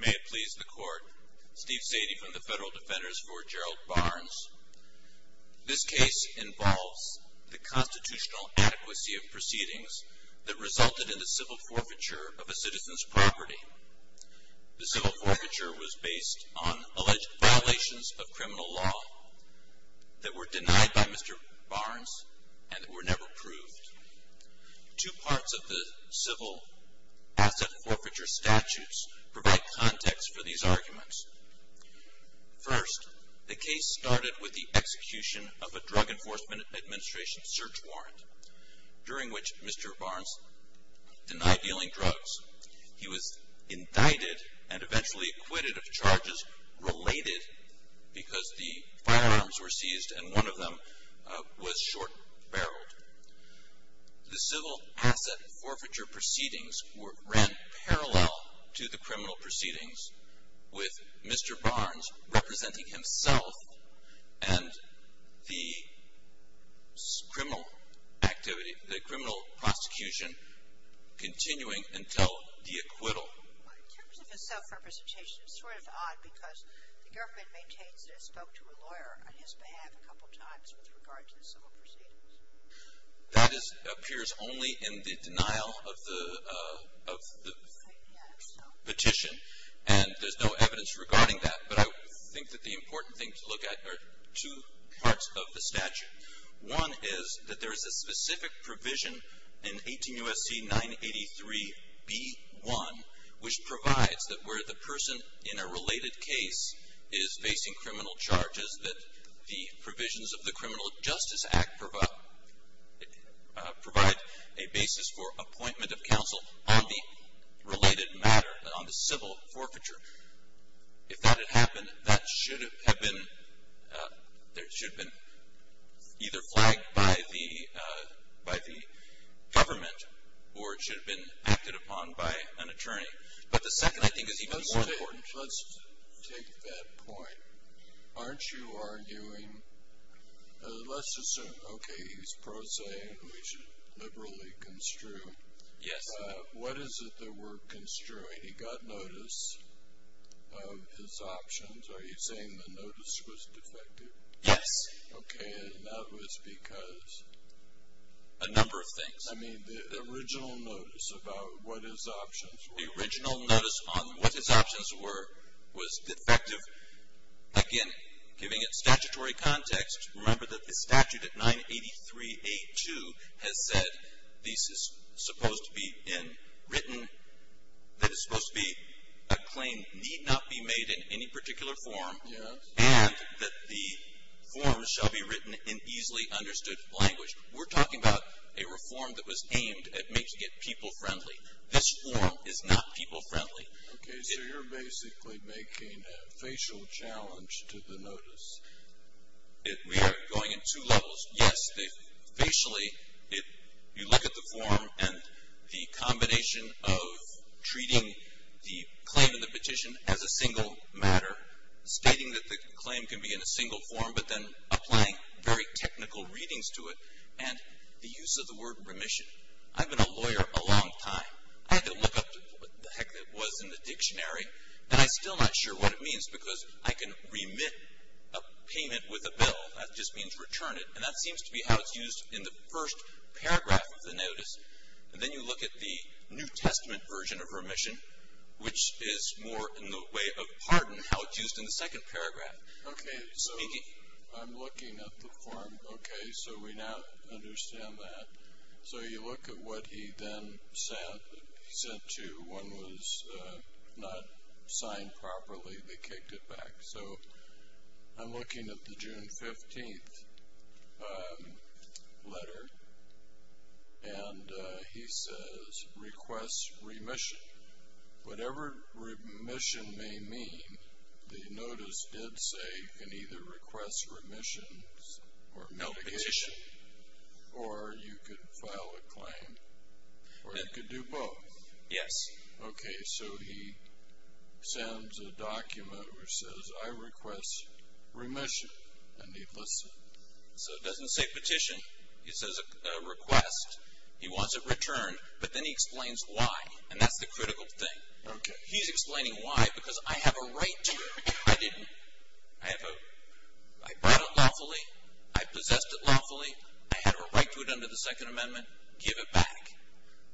May it please the Court, Steve Sadie from the Federal Defenders v. Gerald Barnes. This case involves the constitutional adequacy of proceedings that resulted in the civil forfeiture of a citizen's property. The civil forfeiture was based on alleged violations of criminal law that were denied by Mr. Barnes and were never proved. Two parts of the civil asset forfeiture statutes provide context for these arguments. First, the case started with the execution of a Drug Enforcement Administration search warrant, during which Mr. Barnes denied dealing drugs. He was indicted and eventually acquitted of charges related because the firearms were seized and one of them was short-barreled. The civil asset forfeiture proceedings ran parallel to the criminal proceedings, with Mr. Barnes representing himself and the criminal activity, the criminal prosecution, continuing until the acquittal. In terms of his self-representation, it's sort of odd because the government maintains that it spoke to a lawyer on his behalf a couple times with regard to the civil proceedings. That appears only in the denial of the petition and there's no evidence regarding that, but I think that the important thing to look at are two parts of the statute. One is that there is a specific provision in 18 U.S.C. 983b1, which provides that where the person in a related case is facing criminal charges, that the provisions of the Criminal Justice Act provide a basis for appointment of counsel on the related matter, on the civil forfeiture. If that had happened, that should have been either flagged by the government or it should have been acted upon by an attorney. But the second, I think, is even more important. Let's take that point. Aren't you arguing, let's assume, okay, he's prosaic, we should liberally construe. Yes. What is it that we're construing? He got notice of his options. Are you saying the notice was defective? Yes. Okay, and that was because? A number of things. I mean, the original notice about what his options were. The original notice on what his options were was defective. Again, giving it statutory context, remember that the statute at 983a2 has said this is supposed to be in written, that it's supposed to be a claim need not be made in any particular form. Yes. And that the form shall be written in easily understood language. We're talking about a reform that was aimed at making it people friendly. This form is not people friendly. Okay, so you're basically making a facial challenge to the notice. We are going in two levels. Yes, facially, if you look at the form and the combination of treating the claim and the petition as a single matter, stating that the claim can be in a single form but then applying very technical readings to it and the use of the word remission. I've been a lawyer a long time. I had to look up what the heck that was in the dictionary, and I'm still not sure what it means because I can remit a payment with a bill. That just means return it, and that seems to be how it's used in the first paragraph of the notice. And then you look at the New Testament version of remission, which is more in the way of pardon, how it's used in the second paragraph. Okay, so I'm looking at the form. Okay, so we now understand that. So you look at what he then sent to. One was not signed properly. They kicked it back. Okay, so I'm looking at the June 15th letter, and he says request remission. Whatever remission may mean, the notice did say you can either request remissions or mitigation, or you could file a claim, or you could do both. Yes. Okay, so he sends a document which says I request remission, and he lists it. So it doesn't say petition. It says request. He wants it returned, but then he explains why, and that's the critical thing. Okay. He's explaining why because I have a right to it. I didn't. I brought it lawfully. I possessed it lawfully. I had a right to it under the Second Amendment. Give it back.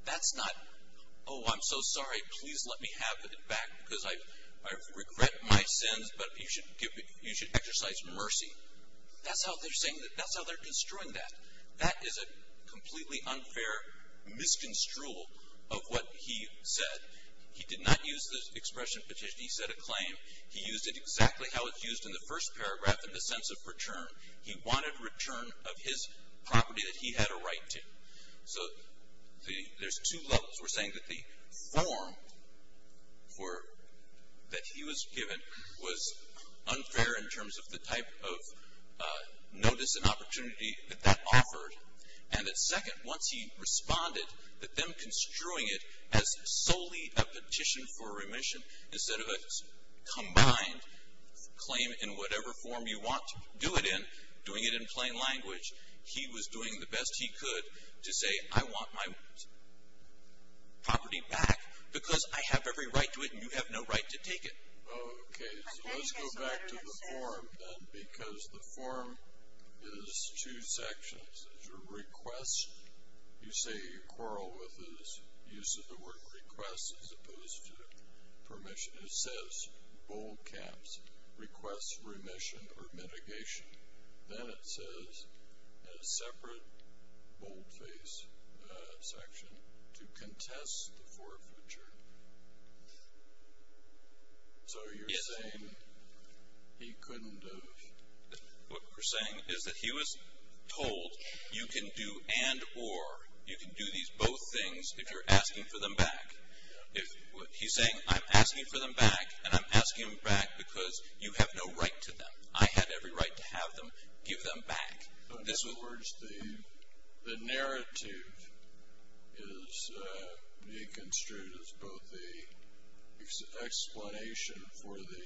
That's not oh, I'm so sorry. Please let me have it back because I regret my sins, but you should exercise mercy. That's how they're saying that. That's how they're construing that. That is a completely unfair misconstrual of what he said. He did not use the expression petition. He said a claim. He used it exactly how it's used in the first paragraph in the sense of return. He wanted return of his property that he had a right to. So there's two levels. We're saying that the form that he was given was unfair in terms of the type of notice and opportunity that that offered, and that second, once he responded, that them construing it as solely a petition for remission instead of a combined claim in whatever form you want to do it in, doing it in plain language, he was doing the best he could to say I want my property back because I have every right to it and you have no right to take it. Okay, so let's go back to the form then because the form is two sections. It's your request. You say you quarrel with his use of the word request as opposed to permission. It says bold caps, request remission or mitigation. Then it says a separate boldface section to contest the forfeiture. So you're saying he couldn't have... What we're saying is that he was told you can do and or, you can do these both things if you're asking for them back. He's saying I'm asking for them back and I'm asking them back because you have no right to them. I have every right to have them, give them back. In other words, the narrative is being construed as both the explanation for the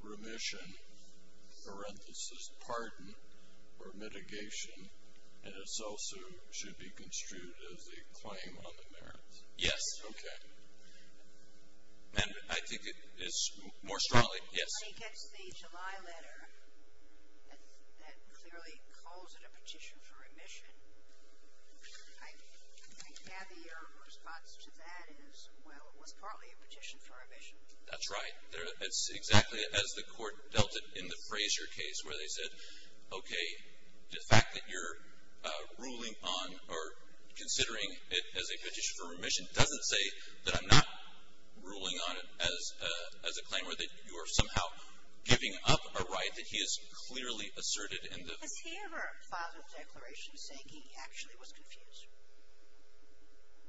remission, parenthesis, pardon, or mitigation, and it also should be construed as the claim on the merits. Yes, okay. And I think it's more strongly... He gets the July letter that clearly calls it a petition for remission. I gather your response to that is, well, it was partly a petition for remission. That's right. It's exactly as the court dealt it in the Frazier case where they said, okay, the fact that you're ruling on or considering it as a petition for remission doesn't say that I'm not ruling on it as a claim or that you are somehow giving up a right that he has clearly asserted in the... Has he ever filed a declaration saying he actually was confused?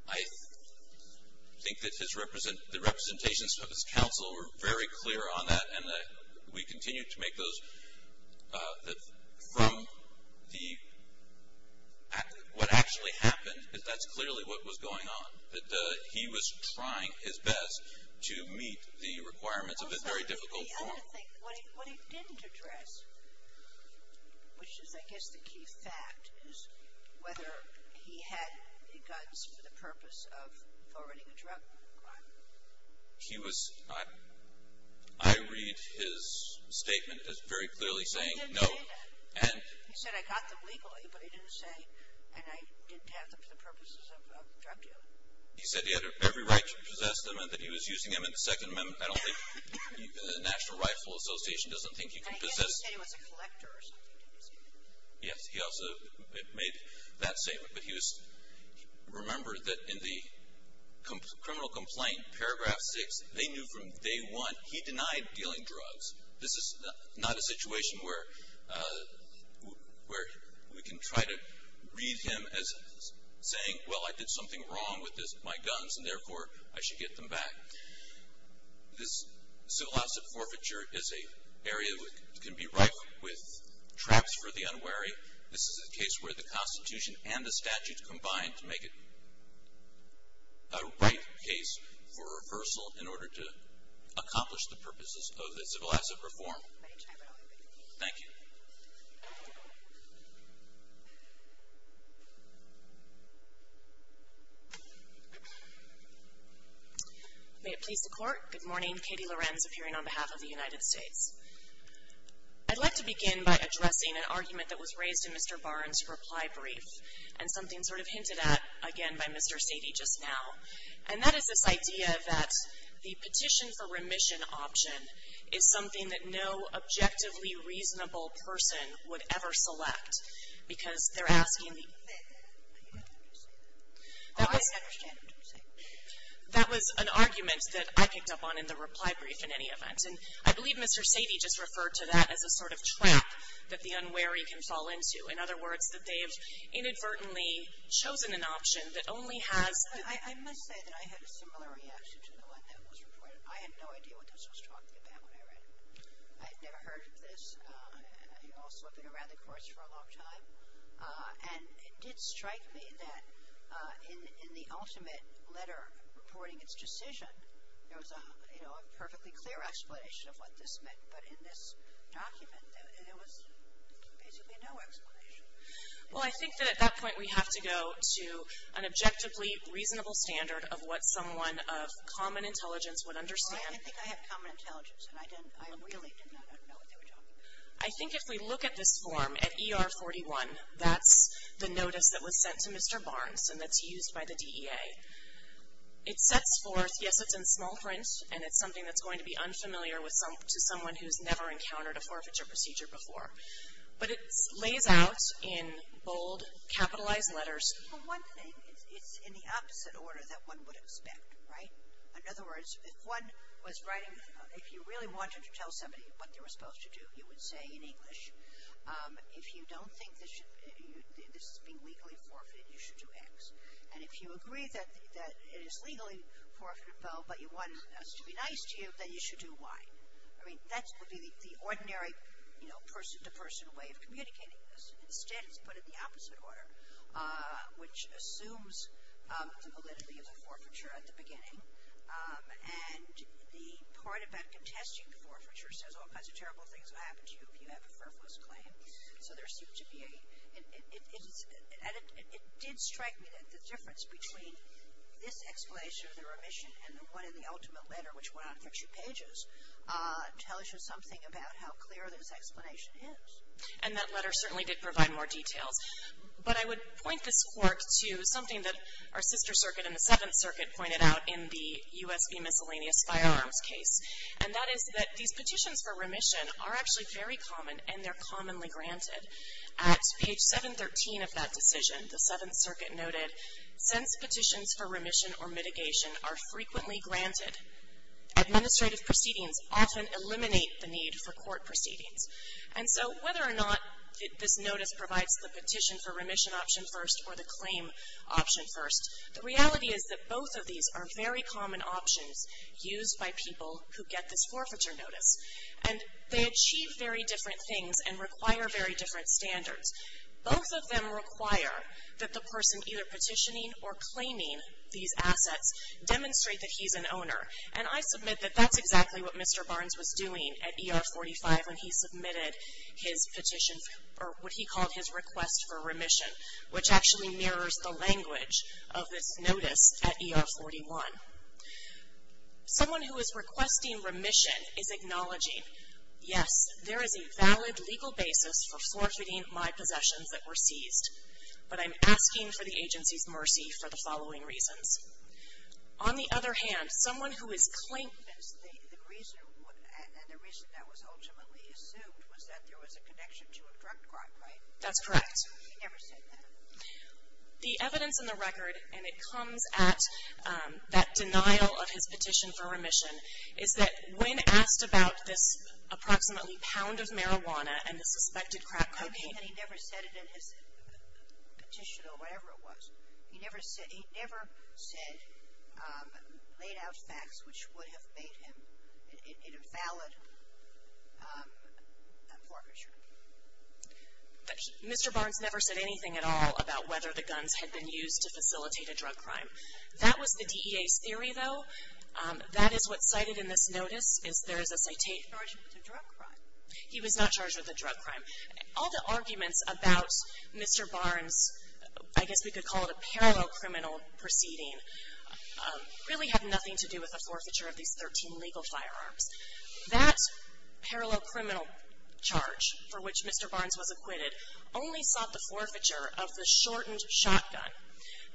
I think that the representations of his counsel were very clear on that and that we continue to make those from the... What actually happened is that's clearly what was going on, that he was trying his best to meet the requirements of a very difficult form. The other thing, what he didn't address, which is I guess the key fact, is whether he had the guns for the purpose of forwarding a drug crime. He was... I read his statement as very clearly saying no. He didn't say that. He said, I got them legally, but he didn't say, and I didn't have them for the purposes of drug dealing. He said he had every right to possess them and that he was using them in the Second Amendment. I don't think the National Rifle Association doesn't think you can possess... I guess he said he was a collector or something. Yes, he also made that statement. Remember that in the criminal complaint, paragraph six, they knew from day one he denied dealing drugs. This is not a situation where we can try to read him as saying, well, I did something wrong with my guns and therefore I should get them back. This civil asset forfeiture is an area that can be rife with traps for the unwary. This is a case where the Constitution and the statutes combine to make it a right case for reversal in order to accomplish the purposes of the civil asset reform. Thank you. May it please the Court. Good morning. Katie Lorenz, appearing on behalf of the United States. I'd like to begin by addressing an argument that was raised in Mr. Barnes' reply brief and something sort of hinted at, again, by Mr. Sadie just now. And that is this idea that the petition for remission option is something that no objectively reasonable person would ever select because they're asking... I understand what you're saying. That was an argument that I picked up on in the reply brief in any event. And I believe Mr. Sadie just referred to that as a sort of trap that the unwary can fall into. In other words, that they have inadvertently chosen an option that only has... I must say that I had a similar reaction to the one that was reported. I had no idea what this was talking about when I read it. I had never heard of this. And also I've been around the courts for a long time. And it did strike me that in the ultimate letter reporting its decision, there was a perfectly clear explanation of what this meant. But in this document, there was basically no explanation. Well, I think that at that point we have to go to an objectively reasonable standard of what someone of common intelligence would understand. Well, I didn't think I had common intelligence. And I really did not know what they were talking about. I think if we look at this form, at ER 41, that's the notice that was sent to Mr. Barnes and that's used by the DEA. It sets forth, yes, it's in small print and it's something that's going to be unfamiliar to someone who's never encountered a forfeiture procedure before. But it lays out in bold, capitalized letters. One thing, it's in the opposite order that one would expect, right? In other words, if one was writing, if you really wanted to tell somebody what they were supposed to do, you would say in English, if you don't think this is being legally forfeited, you should do X. And if you agree that it is legally forfeitable but you want us to be nice to you, then you should do Y. I mean, that would be the ordinary, you know, person-to-person way of communicating this. Instead, it's put in the opposite order, which assumes the validity of the forfeiture at the beginning. And the part about contesting the forfeiture says all kinds of terrible things will happen to you if you have a frivolous claim. So there seemed to be, and it did strike me that the difference between this explanation of the remission and the one in the ultimate letter, which went on for two pages, tells you something about how clear this explanation is. And that letter certainly did provide more details. But I would point this court to something that our sister circuit and the Seventh Circuit pointed out in the U.S. v. Miscellaneous Firearms case. And that is that these petitions for remission are actually very common and they're commonly granted. At page 713 of that decision, the Seventh Circuit noted, since petitions for remission or mitigation are frequently granted, administrative proceedings often eliminate the need for court proceedings. And so whether or not this notice provides the petition for remission option first or the claim option first, the reality is that both of these are very common options used by people who get this forfeiture notice. And they achieve very different things and require very different standards. Both of them require that the person either petitioning or claiming these assets demonstrate that he's an owner. And I submit that that's exactly what Mr. Barnes was doing at ER 45 when he submitted his petition for what he called his request for remission, which actually mirrors the language of this notice at ER 41. Someone who is requesting remission is acknowledging, yes, there is a valid legal basis for forfeiting my possessions that were seized. But I'm asking for the agency's mercy for the following reasons. On the other hand, someone who is claiming... And the reason that was ultimately assumed was that there was a connection to a drug crime, right? That's correct. He never said that. The evidence in the record, and it comes at that denial of his petition for remission, is that when asked about this approximately pound of marijuana and the suspected crack cocaine... I'm saying that he never said it in his petition or whatever it was. He never said laid out facts which would have made him an invalid forfeiture. Mr. Barnes never said anything at all about whether the guns had been used to facilitate a drug crime. That was the DEA's theory, though. That is what's cited in this notice, is there is a citation... He was not charged with a drug crime. He was not charged with a drug crime. All the arguments about Mr. Barnes, I guess we could call it a parallel criminal proceeding, really have nothing to do with the forfeiture of these 13 legal firearms. That parallel criminal charge for which Mr. Barnes was acquitted only sought the forfeiture of the shortened shotgun.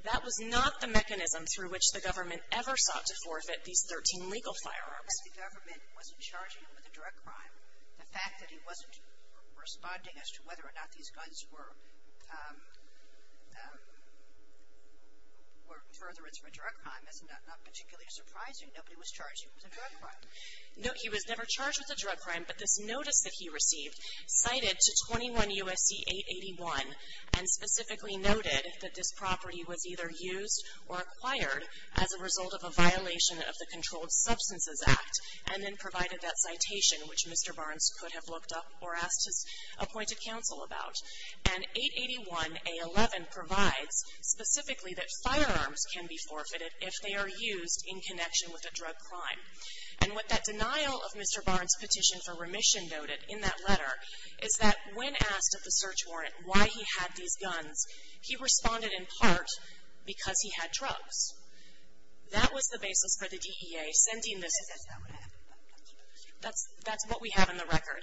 That was not the mechanism through which the government ever sought to forfeit these 13 legal firearms. The government wasn't charging him with a drug crime. The fact that he wasn't responding as to whether or not these guns were furtherance for a drug crime is not particularly surprising. Nobody was charging him with a drug crime. He was never charged with a drug crime, but this notice that he received cited to 21 USC 881 and specifically noted that this property was either used or acquired as a result of a violation of the Controlled Substances Act and then provided that citation which Mr. Barnes could have looked up or asked his appointed counsel about. And 881A11 provides specifically that firearms can be forfeited if they are used in connection with a drug crime. And what that denial of Mr. Barnes' petition for remission noted in that letter is that when asked at the search warrant why he had these guns, he responded in part because he had drugs. That was the basis for the DEA sending this. That's not what happened. That's what we have in the record.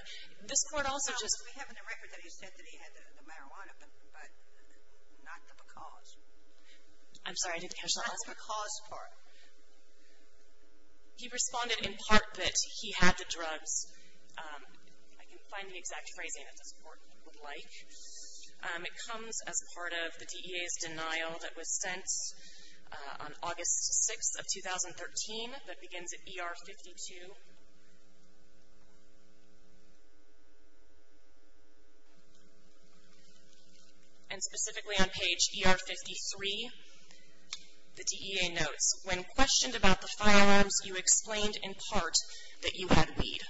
This court also just. We have in the record that he said that he had the marijuana, but not the because. I'm sorry, I didn't catch that. Not the because part. He responded in part that he had the drugs. I can find the exact phrasing that this court would like. It comes as part of the DEA's denial that was sent on August 6th of 2013 that begins at ER 52. And specifically on page ER 53, the DEA notes, when questioned about the firearms, you explained in part that you had weed.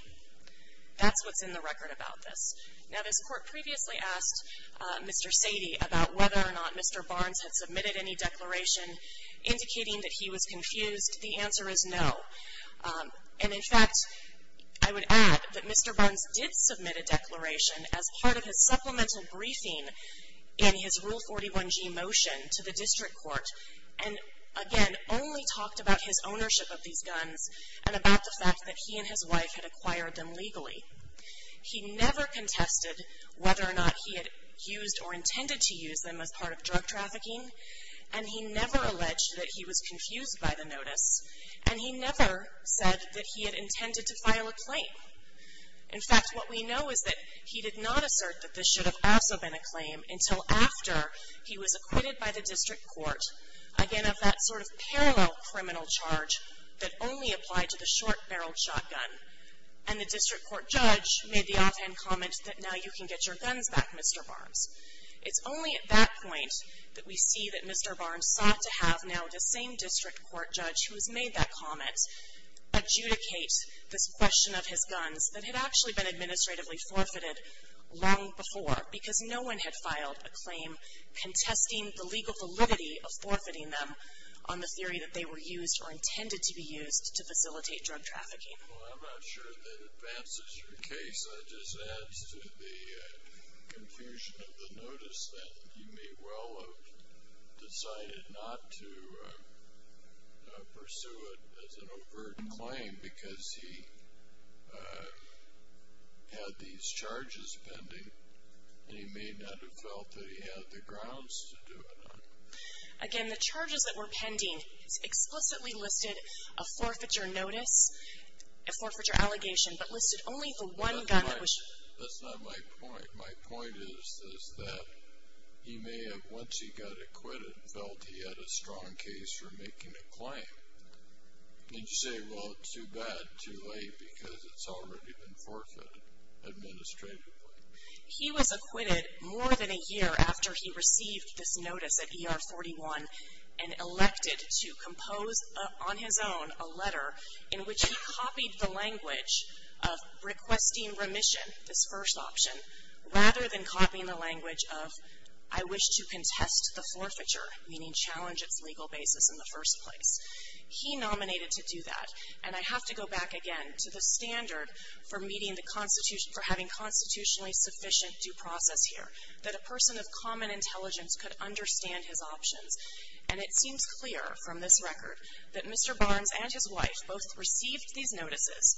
That's what's in the record about this. Now, this court previously asked Mr. Sadie about whether or not Mr. Barnes had submitted any declaration indicating that he was confused. The answer is no. And, in fact, I would add that Mr. Barnes did submit a declaration as part of his supplemental briefing in his Rule 41G motion to the district court and, again, only talked about his ownership of these guns and about the fact that he and his wife had acquired them legally. He never contested whether or not he had used or intended to use them as part of drug trafficking. And he never alleged that he was confused by the notice. And he never said that he had intended to file a claim. In fact, what we know is that he did not assert that this should have also been a claim until after he was acquitted by the district court, again, of that sort of parallel criminal charge that only applied to the short-barreled shotgun. And the district court judge made the offhand comment that now you can get your guns back, Mr. Barnes. It's only at that point that we see that Mr. Barnes sought to have now the same district court judge who has made that comment adjudicate this question of his guns that had actually been administratively forfeited long before because no one had filed a claim contesting the legal validity of forfeiting them on the theory that they were used or intended to be used to facilitate drug trafficking. Well, I'm not sure that advances your case. That just adds to the confusion of the notice that you may well have decided not to pursue it as an overt claim because he had these charges pending and he may not have felt that he had the grounds to do it. Again, the charges that were pending explicitly listed a forfeiture notice, a forfeiture allegation, but listed only the one gun that was... That's not my point. My point is that he may have, once he got acquitted, felt he had a strong case for making a claim. And you say, well, too bad, too late because it's already been forfeited administratively. He was acquitted more than a year after he received this notice at ER 41 and elected to compose on his own a letter in which he copied the language of requesting remission, this first option, rather than copying the language of I wish to contest the forfeiture, meaning challenge its legal basis in the first place. He nominated to do that. And I have to go back again to the standard for having constitutionally sufficient due process here, that a person of common intelligence could understand his options. And it seems clear from this record that Mr. Barnes and his wife both received these notices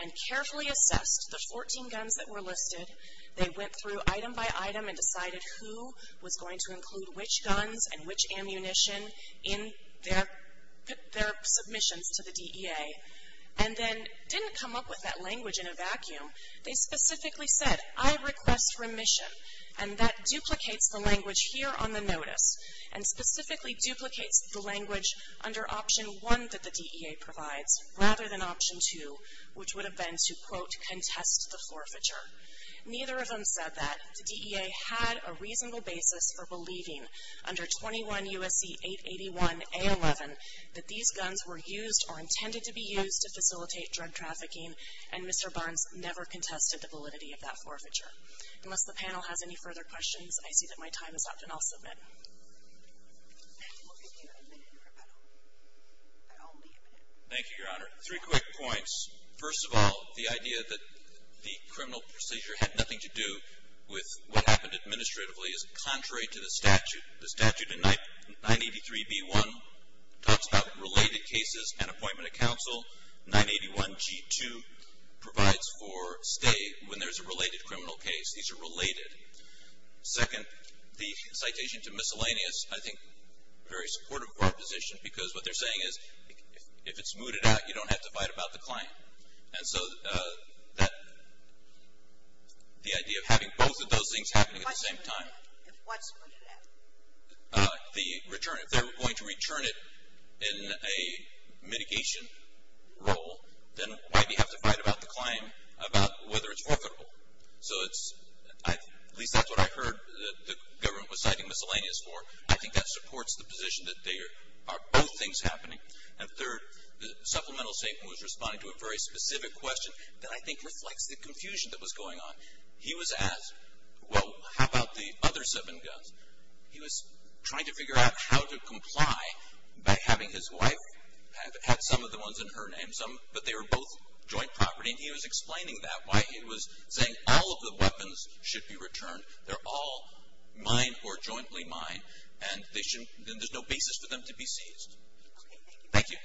and carefully assessed the 14 guns that were listed. They went through item by item and decided who was going to include which guns and which ammunition in their submissions to the DEA. And then didn't come up with that language in a vacuum. They specifically said, I request remission, and that duplicates the language here on the notice and specifically duplicates the language under option one that the DEA provides rather than option two, which would have been to, quote, contest the forfeiture. Neither of them said that. The DEA had a reasonable basis for believing under 21 U.S.C. 881A11 that these guns were used or intended to be used to facilitate drug trafficking, and Mr. Barnes never contested the validity of that forfeiture. Unless the panel has any further questions, I see that my time is up, and I'll submit. We'll give you a minute for rebuttal, but only a minute. Thank you, Your Honor. Three quick points. First of all, the idea that the criminal procedure had nothing to do with what happened administratively is contrary to the statute. The statute in 983B1 talks about related cases and appointment of counsel. 981G2 provides for stay when there's a related criminal case. These are related. Second, the citation to miscellaneous, I think very supportive of our position, because what they're saying is if it's mooted out, you don't have to fight about the claim. And so the idea of having both of those things happening at the same time. If what's mooted out? The return. If they're going to return it in a mitigation role, then why do you have to fight about the claim about whether it's forfeitable? So at least that's what I heard the government was citing miscellaneous for. I think that supports the position that there are both things happening. And third, the supplemental statement was responding to a very specific question that I think reflects the confusion that was going on. He was asked, well, how about the other seven guns? He was trying to figure out how to comply by having his wife have some of the ones in her name, but they were both joint property, and he was explaining that, why he was saying all of the weapons should be returned. They're all mine or jointly mine, and there's no basis for them to be seized. Thank you.